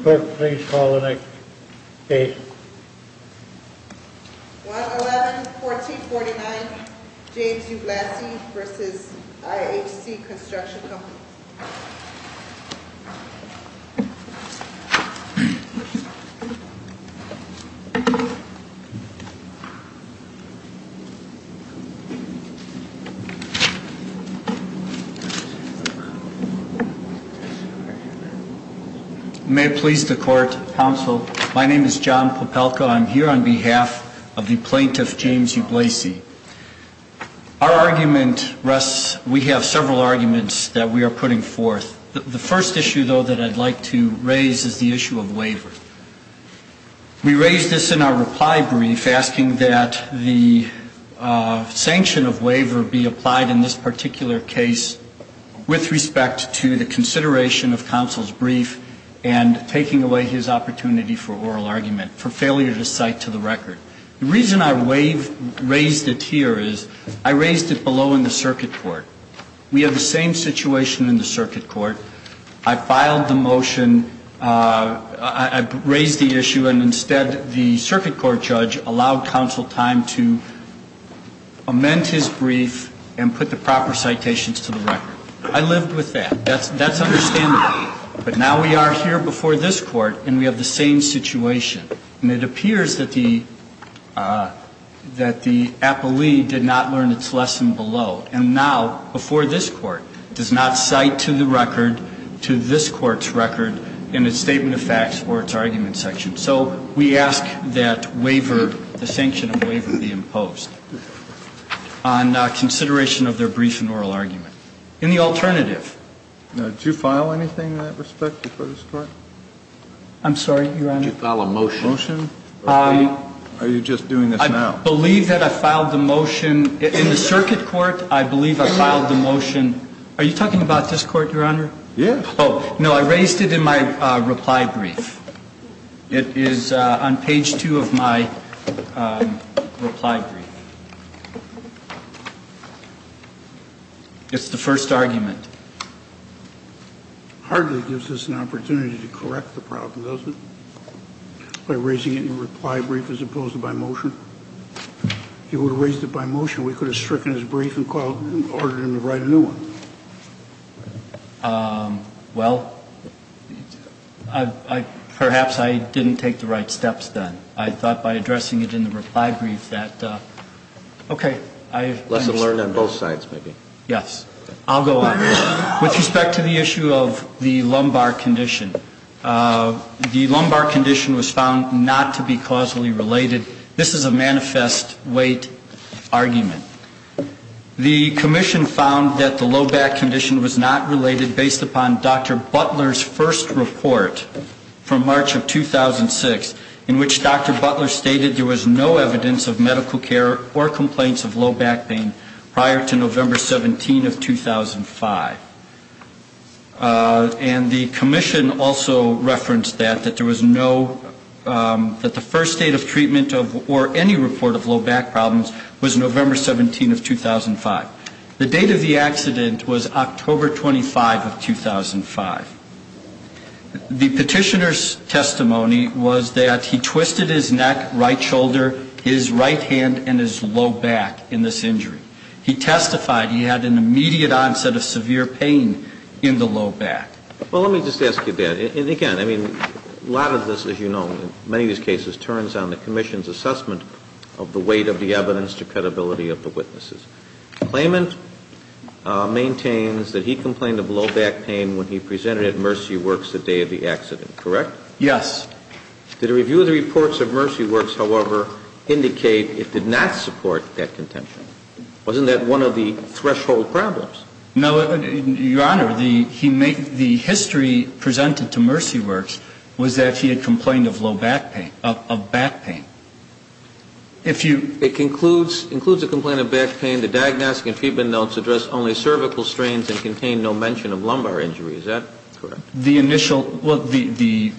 Clerk, please call the next case. 111-1449 James Ublasi v. IHC Construction Company May it please the Court, Counsel. My name is John Popelka. I'm here on behalf of the Plaintiff James Ublasi. Our argument rests, we have several arguments that we are putting forth. The first issue, though, that I'd like to raise is the issue of waiver. We raised this in our reply brief, asking that the sanction of waiver be applied in this particular case with respect to the consideration of counsel's brief and taking away his opportunity for oral argument, for failure to cite to the record. The reason I raised it here is I raised it below in the circuit court. We have the same situation in the circuit court. I filed the motion, I raised the issue, and instead the circuit court judge allowed counsel time to amend his brief and put the proper citations to the record. I lived with that. That's understandable. But now we are here before this Court and we have the same situation. And it appears that the appellee did not learn its lesson below. And now, before this Court, does not cite to the record, to this Court's record, in its statement of facts or its argument section. So we ask that waiver, the sanction of waiver, be imposed. On consideration of their brief and oral argument. Any alternative? Now, did you file anything in that respect before this Court? I'm sorry, Your Honor? Did you file a motion? A motion? Are you just doing this now? I believe that I filed the motion. In the circuit court, I believe I filed the motion. Are you talking about this Court, Your Honor? Yes. No, I raised it in my reply brief. It is on page 2 of my reply brief. It's the first argument. It hardly gives us an opportunity to correct the problem, does it? By raising it in your reply brief as opposed to by motion? If you would have raised it by motion, we could have stricken his brief and ordered him to write a new one. Well, perhaps I didn't take the right steps then. I thought by addressing it in the reply brief that, okay. Lesson learned on both sides, maybe. Yes. I'll go on. With respect to the issue of the lumbar condition, the lumbar condition was found not to be causally related. This is a manifest weight argument. The commission found that the low back condition was not related based upon Dr. Butler's first report from March of 2006, in which Dr. Butler stated there was no evidence of medical care or complaints of low back pain prior to November 17 of 2005. And the commission also referenced that, that there was no, that the first date of treatment of, or any report of low back problems was November 17 of 2005. The date of the accident was October 25 of 2005. The petitioner's testimony was that he twisted his neck, right shoulder, his right hand, and his low back in this injury. He testified he had an immediate onset of severe pain in the low back. Well, let me just ask you that. And, again, I mean, a lot of this, as you know, in many of these cases, turns on the commission's assessment of the weight of the evidence to credibility of the witnesses. Claimant maintains that he complained of low back pain when he presented at Mercy Works the day of the accident. Correct? Yes. Did a review of the reports of Mercy Works, however, indicate it did not support that contention? Wasn't that one of the threshold problems? No, Your Honor. The history presented to Mercy Works was that he had complained of low back pain, of back pain. It concludes, includes a complaint of back pain. The diagnostic and treatment notes address only cervical strains and contain no mention of lumbar injury. Is that correct? The initial, well, the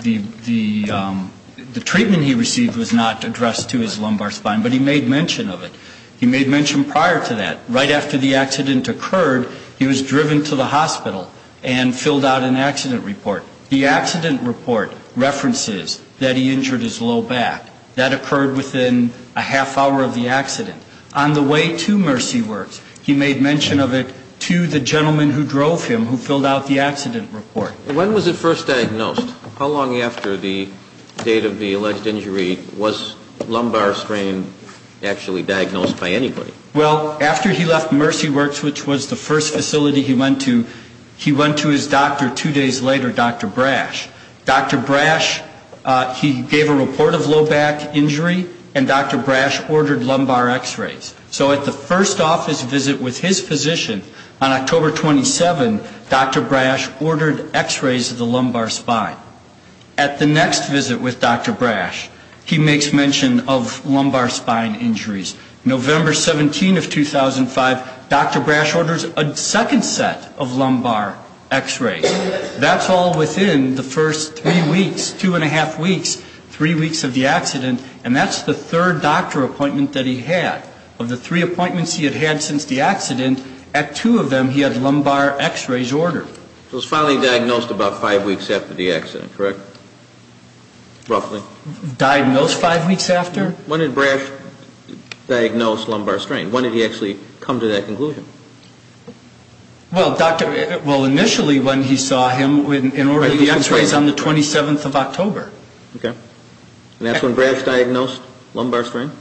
treatment he received was not addressed to his lumbar spine, but he made mention of it. He made mention prior to that. Right after the accident occurred, he was driven to the hospital and filled out an accident report. The accident report references that he injured his low back. That occurred within a half hour of the accident. On the way to Mercy Works, he made mention of it to the gentleman who drove him who filled out the accident report. When was it first diagnosed? How long after the date of the alleged injury was lumbar strain actually diagnosed by anybody? Well, after he left Mercy Works, which was the first facility he went to, he went to his doctor two days later, Dr. Brash. Dr. Brash, he gave a report of low back injury, and Dr. Brash ordered lumbar x-rays. So at the first office visit with his physician on October 27, Dr. Brash ordered x-rays of the lumbar spine. At the next visit with Dr. Brash, he makes mention of lumbar spine injuries. November 17 of 2005, Dr. Brash orders a second set of lumbar x-rays. That's all within the first three weeks, two and a half weeks, three weeks of the accident, and that's the third doctor appointment that he had. Of the three appointments he had had since the accident, at two of them he had lumbar x-rays ordered. So it was finally diagnosed about five weeks after the accident, correct? Roughly. Diagnosed five weeks after? When did Brash diagnose lumbar strain? When did he actually come to that conclusion? Well, initially when he saw him in order to get x-rays on the 27th of October. Okay. And that's when Brash diagnosed lumbar strain?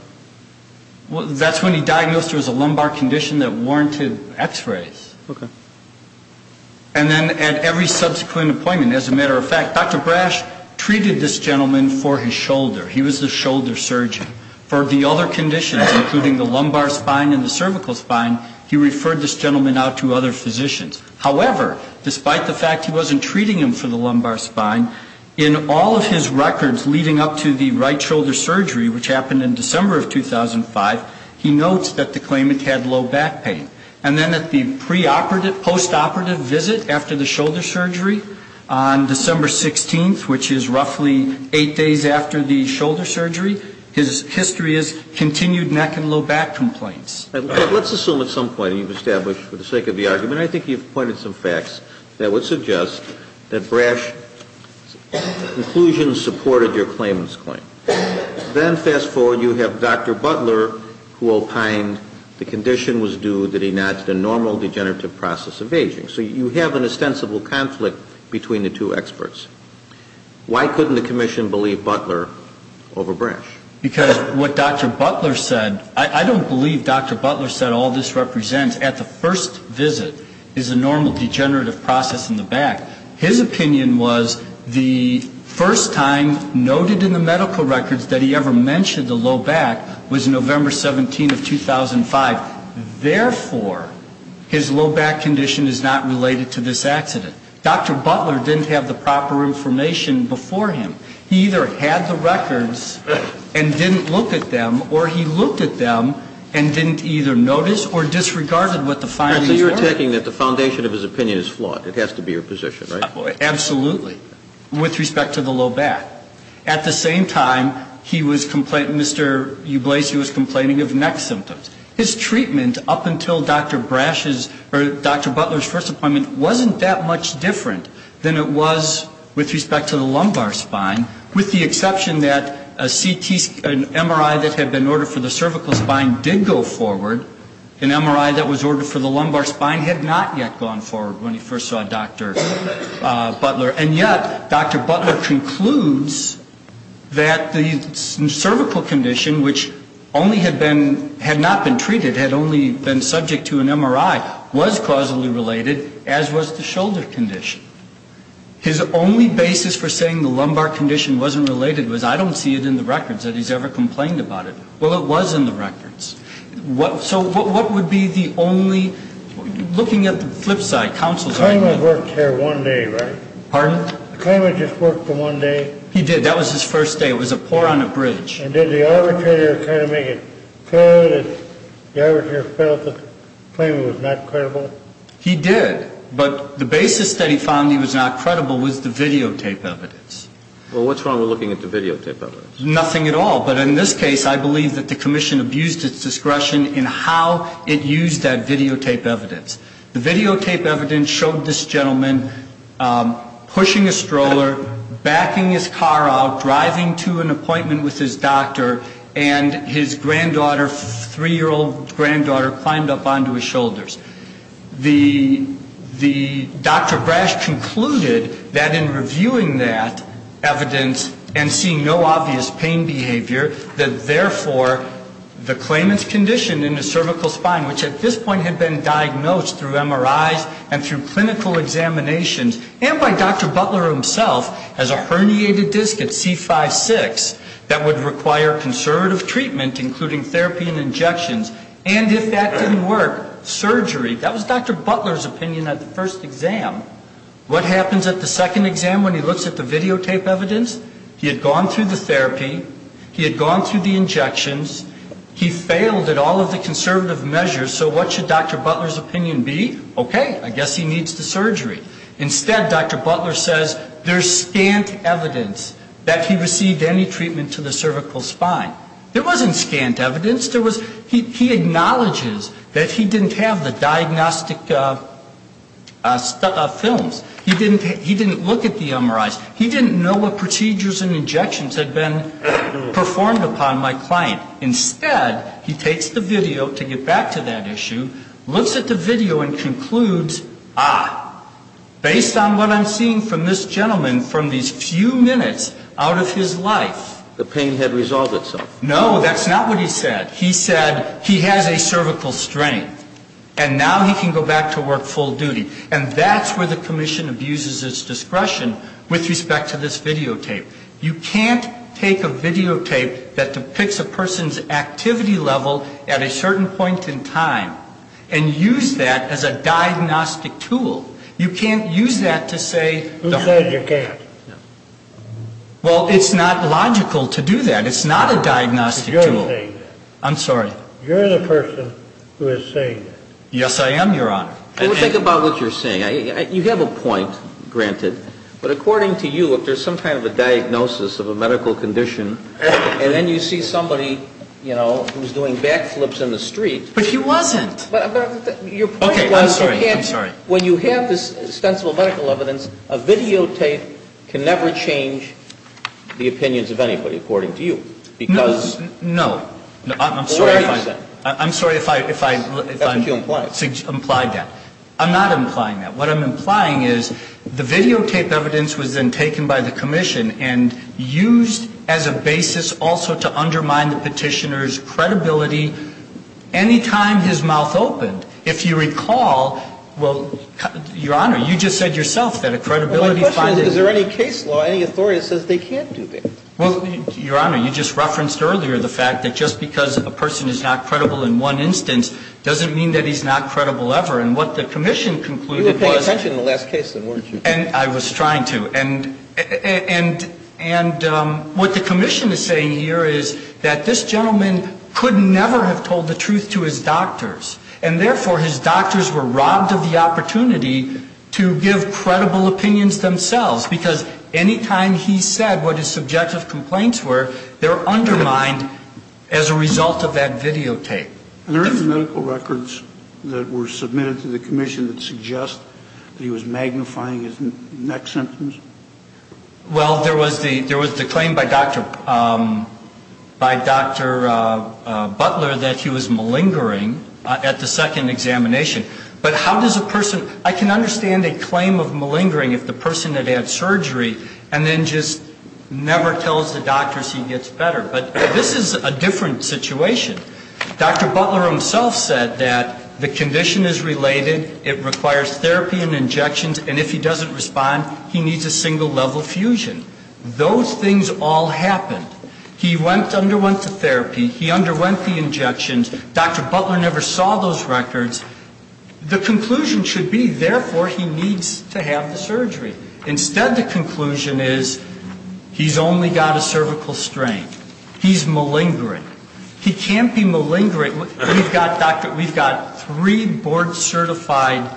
That's when he diagnosed there was a lumbar condition that warranted x-rays. Okay. And then at every subsequent appointment, as a matter of fact, Dr. Brash treated this gentleman for his shoulder. He was the shoulder surgeon. For the other conditions, including the lumbar spine and the cervical spine, he referred this gentleman out to other physicians. However, despite the fact he wasn't treating him for the lumbar spine, in all of his records leading up to the right shoulder surgery, which happened in December of 2005, he notes that the claimant had low back pain. And then at the preoperative, postoperative visit after the shoulder surgery on December 16th, which is roughly eight days after the shoulder surgery, his history is continued neck and low back complaints. Let's assume at some point you've established, for the sake of the argument, I think you've pointed some facts that would suggest that Brash's conclusions supported your claimant's claim. Then fast forward, you have Dr. Butler, who opined the condition was due that he notched a normal degenerative process of aging. So you have an ostensible conflict between the two experts. Why couldn't the commission believe Butler over Brash? Because what Dr. Butler said, I don't believe Dr. Butler said all this represents, at the first visit is a normal degenerative process in the back. His opinion was the first time noted in the medical records that he ever mentioned the low back was November 17th of 2005. Therefore, his low back condition is not related to this accident. Dr. Butler didn't have the proper information before him. He either had the records and didn't look at them, or he looked at them and didn't either notice or disregarded what the findings were. So you're attacking that the foundation of his opinion is flawed. It has to be your position, right? Absolutely. With respect to the low back. At the same time, he was complaining, Mr. Ublase, he was complaining of neck symptoms. His treatment up until Dr. Brash's or Dr. Butler's first appointment wasn't that much different than it was with respect to the lumbar spine, with the exception that a CT, an MRI that had been ordered for the cervical spine did go forward. An MRI that was ordered for the lumbar spine had not yet gone forward when he first saw Dr. Butler. And yet, Dr. Butler concludes that the cervical condition, which only had been, had not been treated, had only been subject to an MRI, was causally related, as was the shoulder condition. His only basis for saying the lumbar condition wasn't related was I don't see it in the records that he's ever complained about it. Well, it was in the records. So what would be the only, looking at the flip side, counsel's argument. The claimant worked here one day, right? Pardon? The claimant just worked for one day? He did. That was his first day. It was a pour on a bridge. And did the arbitrator kind of make it clear that the arbitrator felt the claimant was not credible? He did. But the basis that he found he was not credible was the videotape evidence. Well, what's wrong with looking at the videotape evidence? Nothing at all. But in this case, I believe that the commission abused its discretion in how it used that videotape evidence. The videotape evidence showed this gentleman pushing a stroller, backing his car out, driving to an appointment with his doctor, and his granddaughter, three-year-old granddaughter, climbed up onto his shoulders. The Dr. Brash concluded that in reviewing that evidence and seeing no obvious pain behavior, that therefore the claimant's condition in the cervical spine, which at this point had been diagnosed through MRIs and through clinical examinations and by Dr. Butler himself, has a herniated disc at C5-6 that would require conservative treatment, including therapy and injections. And if that didn't work, surgery. That was Dr. Butler's opinion at the first exam. What happens at the second exam when he looks at the videotape evidence? He had gone through the therapy. He had gone through the injections. He failed at all of the conservative measures. So what should Dr. Butler's opinion be? Okay, I guess he needs the surgery. Instead, Dr. Butler says there's scant evidence that he received any treatment to the cervical spine. There wasn't scant evidence. There was he acknowledges that he didn't have the diagnostic films. He didn't look at the MRIs. He didn't know what procedures and injections had been performed upon my client. Instead, he takes the video to get back to that issue, looks at the video and concludes, ah, based on what I'm seeing from this gentleman from these few minutes out of his life. The pain had resolved itself. No, that's not what he said. He said he has a cervical strain, and now he can go back to work full duty. And that's where the commission abuses its discretion with respect to this videotape. You can't take a videotape that depicts a person's activity level at a certain point in time and use that as a diagnostic tool. You can't use that to say the harm. Who said you can't? Well, it's not logical to do that. It's not a diagnostic tool. You're saying that. I'm sorry. You're the person who is saying that. Yes, I am, Your Honor. Well, think about what you're saying. You have a point, granted. But according to you, if there's some kind of a diagnosis of a medical condition, and then you see somebody, you know, who's doing back flips in the street. But he wasn't. Okay, I'm sorry. I'm sorry. When you have this extensible medical evidence, a videotape can never change the opinions of anybody, according to you. No. Because. No. I'm sorry if I. That's what you implied. I implied that. I'm not implying that. What I'm implying is the videotape evidence was then taken by the commission and used as a basis also to undermine the petitioner's credibility any time his mouth opened. If you recall, well, Your Honor, you just said yourself that a credibility. My question is, is there any case law, any authority that says they can't do that? Well, Your Honor, you just referenced earlier the fact that just because a person is not credible in one instance doesn't mean that he's not credible ever. And what the commission concluded was. You were paying attention in the last case, then, weren't you? I was trying to. And what the commission is saying here is that this gentleman could never have told the truth to his doctors, and therefore his doctors were robbed of the opportunity to give credible opinions themselves, because any time he said what his subjective complaints were, they're undermined as a result of that videotape. Are there any medical records that were submitted to the commission that suggest that he was magnifying his neck symptoms? Well, there was the claim by Dr. Butler that he was malingering at the second examination. But how does a person – I can understand a claim of malingering if the person had had surgery and then just never tells the doctors he gets better, but this is a different situation. Dr. Butler himself said that the condition is related, it requires therapy and injections, and if he doesn't respond, he needs a single level fusion. Those things all happened. He underwent the therapy. He underwent the injections. Dr. Butler never saw those records. The conclusion should be, therefore, he needs to have the surgery. Instead, the conclusion is he's only got a cervical strain. He's malingering. He can't be malingering. We've got three board-certified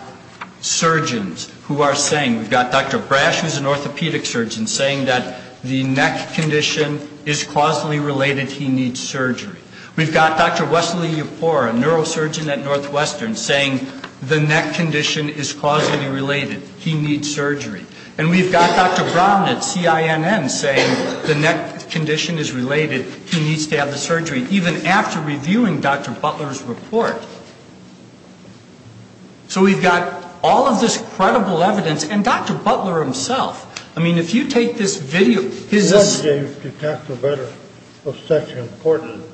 surgeons who are saying – we've got Dr. Brash, who's an orthopedic surgeon, saying that the neck condition is causally related, he needs surgery. We've got Dr. Wesley Yapour, a neurosurgeon at Northwestern, saying the neck condition is causally related, he needs surgery. And we've got Dr. Brown at CINN saying the neck condition is related, he needs to have the surgery, even after reviewing Dr. Butler's report. So we've got all of this credible evidence, and Dr. Butler himself. I mean, if you take this video, his – He said to Dr. Butler it was such an important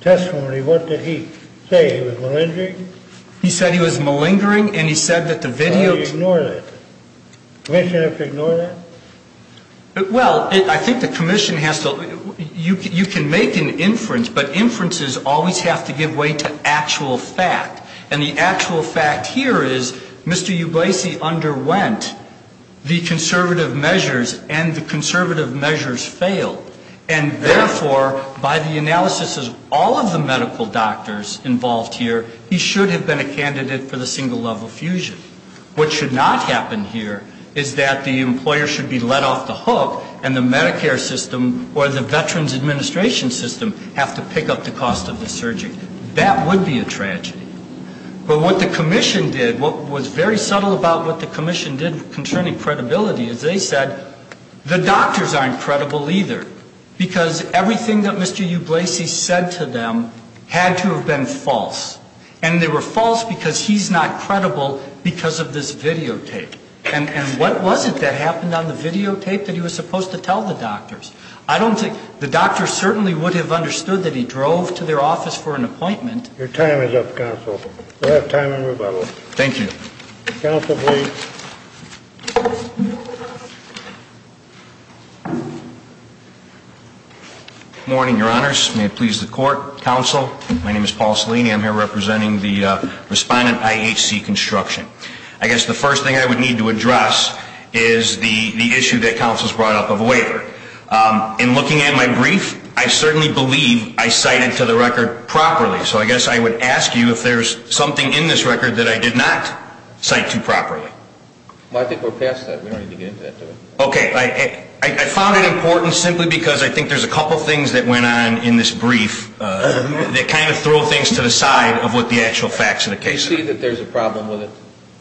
testimony. What did he say? He was malingering? He said he was malingering and he said that the video – Ignore that. Commissioners have to ignore that? Well, I think the commission has to – you can make an inference, but inferences always have to give way to actual fact. And the actual fact here is Mr. Ublasi underwent the conservative measures, and the conservative measures failed. And therefore, by the analysis of all of the medical doctors involved here, he should have been a candidate for the single-level fusion. What should not happen here is that the employer should be let off the hook, and the Medicare system or the Veterans Administration system have to pick up the cost of the surgery. That would be a tragedy. But what the commission did, what was very subtle about what the commission did concerning credibility, is they said the doctors aren't credible either, because everything that Mr. Ublasi said to them had to have been false. And they were false because he's not credible because of this videotape. And what was it that happened on the videotape that he was supposed to tell the doctors? I don't think – the doctors certainly would have understood that he drove to their office for an appointment. Your time is up, counsel. We'll have time in rebuttal. Thank you. Counsel, please. Good morning, Your Honors. May it please the court. Counsel, my name is Paul Salini. I'm here representing the Respondent IHC Construction. I guess the first thing I would need to address is the issue that counsel's brought up of a waiver. In looking at my brief, I certainly believe I cited to the record properly. So I guess I would ask you if there's something in this record that I did not cite to properly. Well, I think we're past that. We don't need to get into that today. Okay. I found it important simply because I think there's a couple things that went on in this brief that kind of throw things to the side of what the actual facts of the case are. Do you see that there's a problem with it?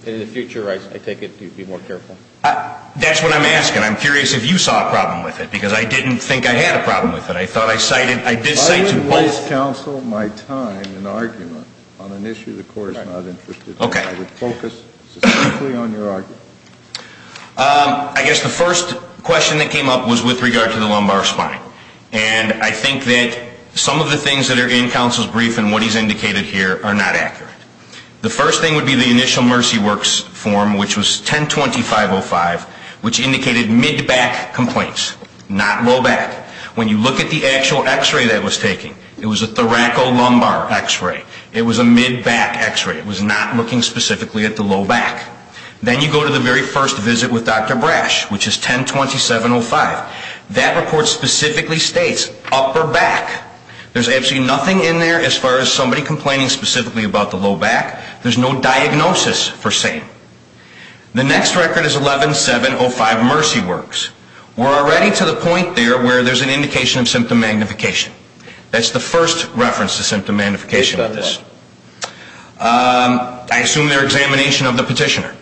And in the future, I take it you'd be more careful. That's what I'm asking. I'm curious if you saw a problem with it, because I didn't think I had a problem with it. I thought I cited – I did cite to both. If I could waste, counsel, my time in argument on an issue the court is not interested in, I would focus specifically on your argument. I guess the first question that came up was with regard to the lumbar spine. And I think that some of the things that are in counsel's brief and what he's indicated here are not accurate. The first thing would be the initial Mercy Works form, which was 10-2505, which indicated mid-back complaints, not low back. When you look at the actual X-ray that it was taking, it was a thoracolumbar X-ray. It was a mid-back X-ray. It was not looking specifically at the low back. Then you go to the very first visit with Dr. Brash, which is 10-2705. That report specifically states upper back. There's absolutely nothing in there as far as somebody complaining specifically about the low back. There's no diagnosis per se. The next record is 11-705 Mercy Works. We're already to the point there where there's an indication of symptom magnification. That's the first reference to symptom magnification of this. I assume they're examination of the petitioner.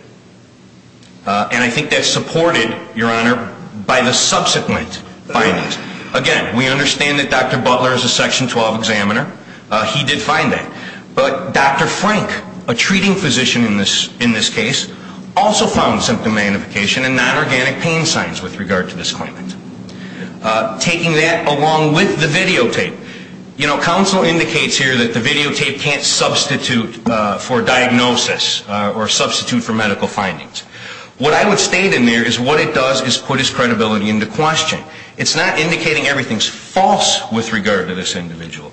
And I think that's supported, Your Honor, by the subsequent findings. Again, we understand that Dr. Butler is a Section 12 examiner. He did find that. But Dr. Frank, a treating physician in this case, also found symptom magnification and non-organic pain signs with regard to this claimant. Taking that along with the videotape. You know, counsel indicates here that the videotape can't substitute for diagnosis or substitute for medical findings. What I would state in there is what it does is put his credibility into question. It's not indicating everything's false with regard to this individual.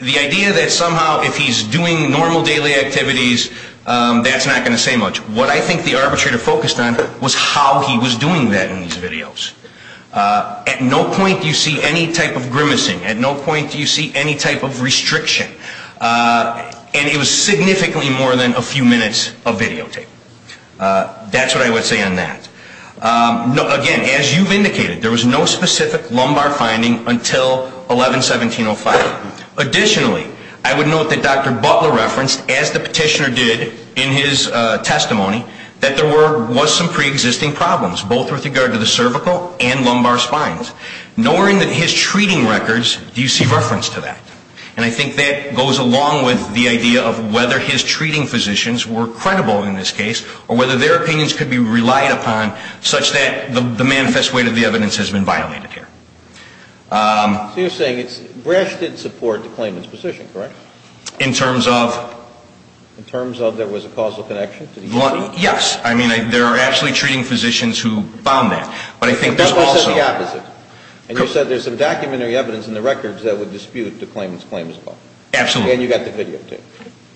The idea that somehow if he's doing normal daily activities, that's not going to say much. What I think the arbitrator focused on was how he was doing that in these videos. At no point do you see any type of grimacing. At no point do you see any type of restriction. And it was significantly more than a few minutes of videotape. That's what I would say on that. Again, as you've indicated, there was no specific lumbar finding until 11-1705. Additionally, I would note that Dr. Butler referenced, as the petitioner did in his testimony, that there was some preexisting problems, both with regard to the cervical and lumbar spines. Nor in his treating records do you see reference to that. And I think that goes along with the idea of whether his treating physicians were credible in this case or whether their opinions could be relied upon such that the manifest weight of the evidence has been violated here. So you're saying Brash did support the claimant's position, correct? In terms of? In terms of there was a causal connection? Yes. I mean, there are actually treating physicians who found that. But that's also the opposite. And you said there's some documentary evidence in the records that would dispute the claimant's claim as well. Absolutely. And you got the video, too.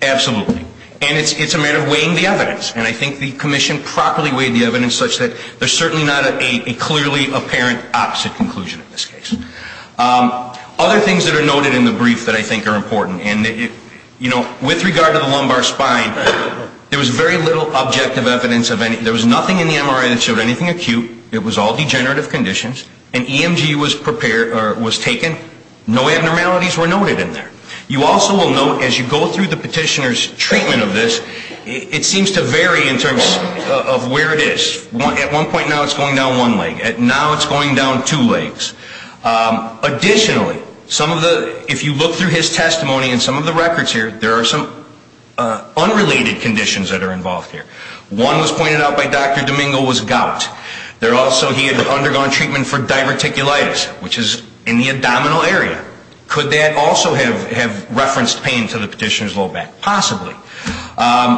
Absolutely. And it's a matter of weighing the evidence. And I think the commission properly weighed the evidence such that there's certainly not a clearly apparent opposite conclusion in this case. Other things that are noted in the brief that I think are important. And, you know, with regard to the lumbar spine, there was very little objective evidence of any ‑‑ there was nothing in the MRI that showed anything acute. It was all degenerative conditions. An EMG was taken. No abnormalities were noted in there. You also will note as you go through the petitioner's treatment of this, it seems to vary in terms of where it is. At one point now it's going down one leg. Now it's going down two legs. Additionally, some of the ‑‑ if you look through his testimony and some of the records here, there are some unrelated conditions that are involved here. One was pointed out by Dr. Domingo was gout. There also he had undergone treatment for diverticulitis, which is in the abdominal area. Could that also have referenced pain to the petitioner's low back? Possibly.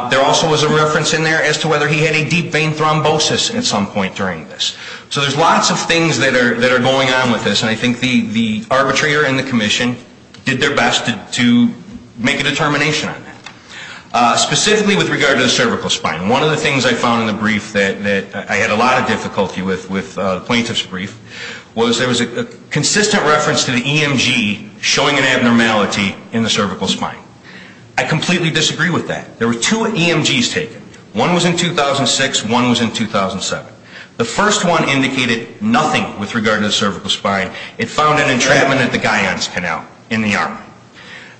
There also was a reference in there as to whether he had a deep vein thrombosis at some point during this. So there's lots of things that are going on with this, and I think the arbitrator and the commission did their best to make a determination on that. Specifically with regard to the cervical spine, one of the things I found in the brief that I had a lot of difficulty with, the plaintiff's brief, was there was a consistent reference to the EMG showing an abnormality in the cervical spine. I completely disagree with that. There were two EMGs taken. One was in 2006. One was in 2007. The first one indicated nothing with regard to the cervical spine. It found an entrapment at the Guyon's Canal in the arm.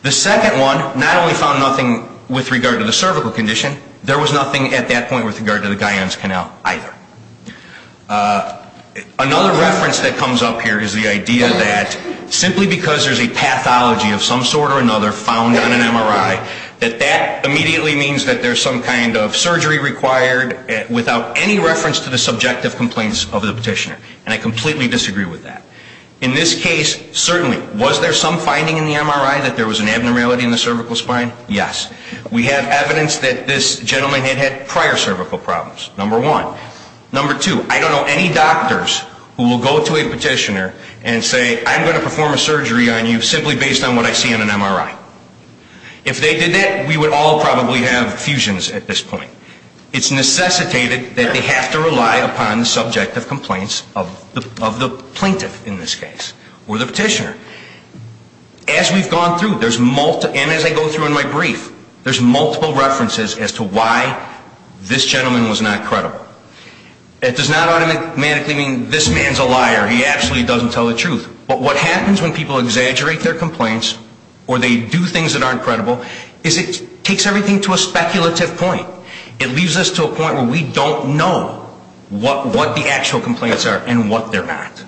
The second one not only found nothing with regard to the cervical condition, there was nothing at that point with regard to the Guyon's Canal either. Another reference that comes up here is the idea that simply because there's a pathology of some sort or another found on an MRI, that that immediately means that there's some kind of surgery required without any reference to the subjective complaints of the petitioner. And I completely disagree with that. In this case, certainly, was there some finding in the MRI that there was an abnormality in the cervical spine? Yes. We have evidence that this gentleman had had prior cervical problems. Number one. Number two, I don't know any doctors who will go to a petitioner and say, I'm going to perform a surgery on you simply based on what I see on an MRI. If they did that, we would all probably have fusions at this point. It's necessitated that they have to rely upon the subjective complaints of the plaintiff in this case or the petitioner. As we've gone through, and as I go through in my brief, there's multiple references as to why this gentleman was not credible. It does not automatically mean this man's a liar. He absolutely doesn't tell the truth. But what happens when people exaggerate their complaints or they do things that aren't credible is it takes everything to a speculative point. It leaves us to a point where we don't know what the actual complaints are and what they're not.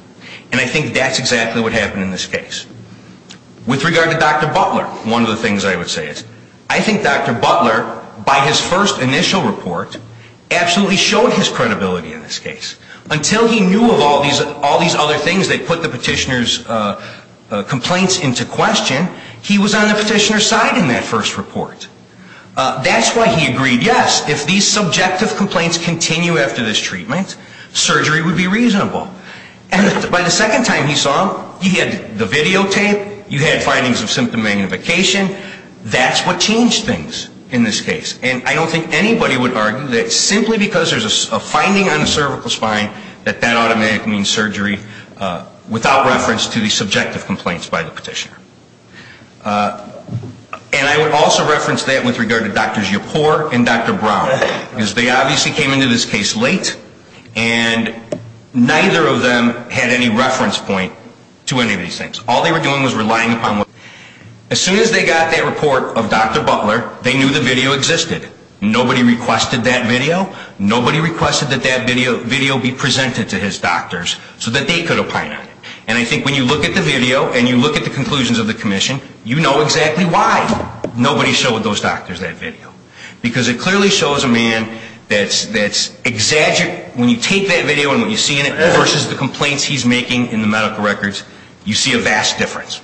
And I think that's exactly what happened in this case. With regard to Dr. Butler, one of the things I would say is I think Dr. Butler, by his first initial report, absolutely showed his credibility in this case. Until he knew of all these other things that put the petitioner's complaints into question, he was on the petitioner's side in that first report. That's why he agreed, yes, if these subjective complaints continue after this treatment, surgery would be reasonable. And by the second time he saw them, he had the videotape, you had findings of symptom magnification. That's what changed things in this case. And I don't think anybody would argue that simply because there's a finding on the cervical spine, that that automatically means surgery without reference to the subjective complaints by the petitioner. And I would also reference that with regard to Drs. Yappour and Dr. Brown. Because they obviously came into this case late, and neither of them had any reference point to any of these things. All they were doing was relying upon what they had. As soon as they got that report of Dr. Butler, they knew the video existed. Nobody requested that video. Nobody requested that that video be presented to his doctors so that they could opine on it. And I think when you look at the video and you look at the conclusions of the commission, you know exactly why nobody showed those doctors that video. Because it clearly shows a man that's exaggerated. When you take that video and what you see in it versus the complaints he's making in the medical records, you see a vast difference.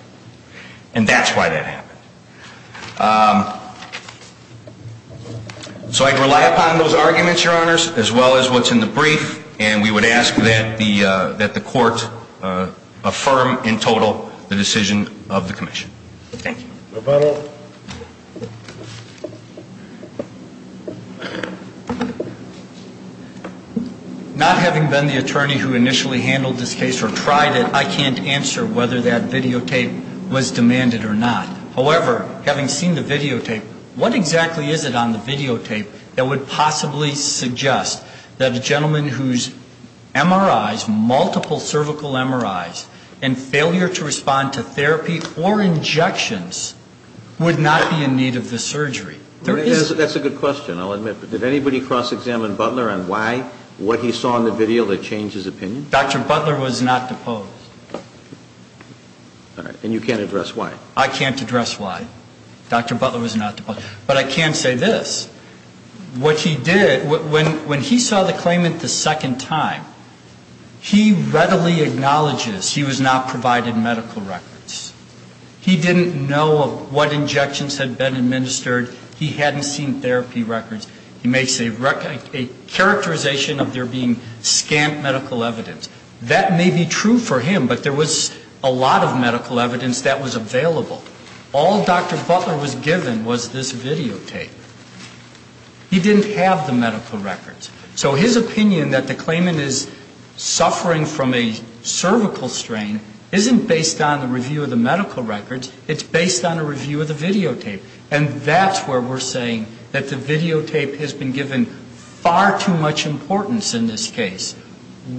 And that's why that happened. So I'd rely upon those arguments, Your Honors, as well as what's in the brief. And we would ask that the court affirm in total the decision of the commission. Thank you. No further? Not having been the attorney who initially handled this case or tried it, I can't answer whether that videotape was demanded or not. However, having seen the videotape, what exactly is it on the videotape that would possibly suggest that a gentleman whose MRIs, multiple cervical MRIs, and failure to respond to therapy or injections would not be in need of the surgery? That's a good question, I'll admit. But did anybody cross-examine Butler on why, what he saw in the video that changed his opinion? Dr. Butler was not deposed. All right. And you can't address why? I can't address why. Dr. Butler was not deposed. But I can say this. What he did, when he saw the claimant the second time, he readily acknowledges he was not provided medical records. He didn't know what injections had been administered. He hadn't seen therapy records. He makes a characterization of there being scant medical evidence. That may be true for him, but there was a lot of medical evidence that was available. All Dr. Butler was given was this videotape. He didn't have the medical records. So his opinion that the claimant is suffering from a cervical strain isn't based on the review of the medical records. It's based on a review of the videotape. And that's where we're saying that the videotape has been given far too much importance in this case,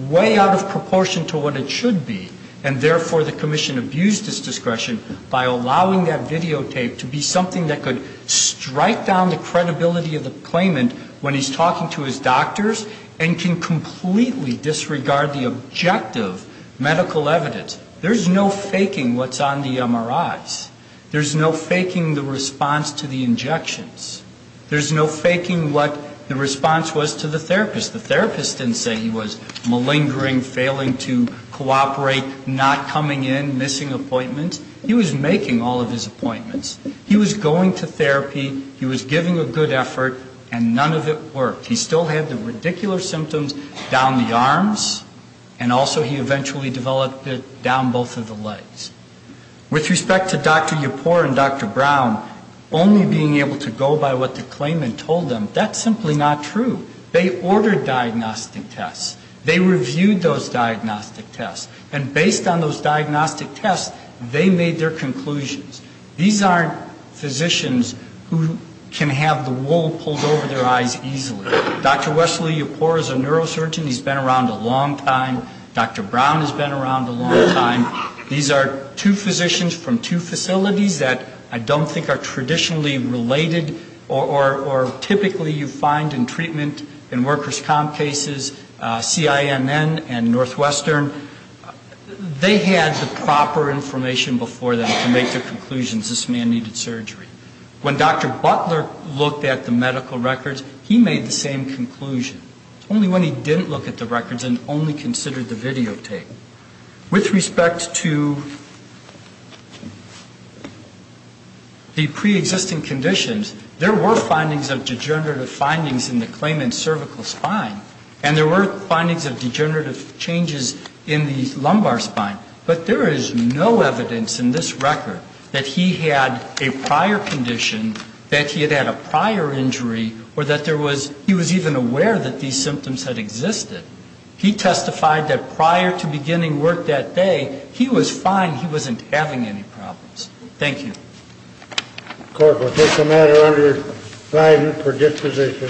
way out of proportion to what it should be. And therefore, the commission abused its discretion by allowing that videotape to be something that could strike down the credibility of the claimant when he's talking to his doctors and can completely disregard the objective medical evidence. There's no faking what's on the MRIs. There's no faking the response to the injections. There's no faking what the response was to the therapist. The therapist didn't say he was malingering, failing to cooperate, not coming in, missing appointments. He was making all of his appointments. He was going to therapy. He was giving a good effort, and none of it worked. He still had the ridiculous symptoms down the arms, and also he eventually developed it down both of the legs. With respect to Dr. Yapur and Dr. Brown, only being able to go by what the claimant told them, that's simply not true. They ordered diagnostic tests. They reviewed those diagnostic tests. And based on those diagnostic tests, they made their conclusions. These aren't physicians who can have the wool pulled over their eyes easily. Dr. Wesley Yapur is a neurosurgeon. He's been around a long time. Dr. Brown has been around a long time. These are two physicians from two facilities that I don't think are traditionally related, or typically you find in treatment, in workers' comp cases, CINN and Northwestern. They had the proper information before them to make their conclusions, this man needed surgery. When Dr. Butler looked at the medical records, he made the same conclusion. Only when he didn't look at the records and only considered the videotape. With respect to the preexisting conditions, there were findings of degenerative findings in the claimant's cervical spine. And there were findings of degenerative changes in the lumbar spine. But there is no evidence in this record that he had a prior condition, that he had had a prior injury, or that there was, he was even aware that these symptoms had existed. He testified that prior to beginning work that day, he was fine, he wasn't having any problems. Thank you. Court will take the matter under indictment for disposition.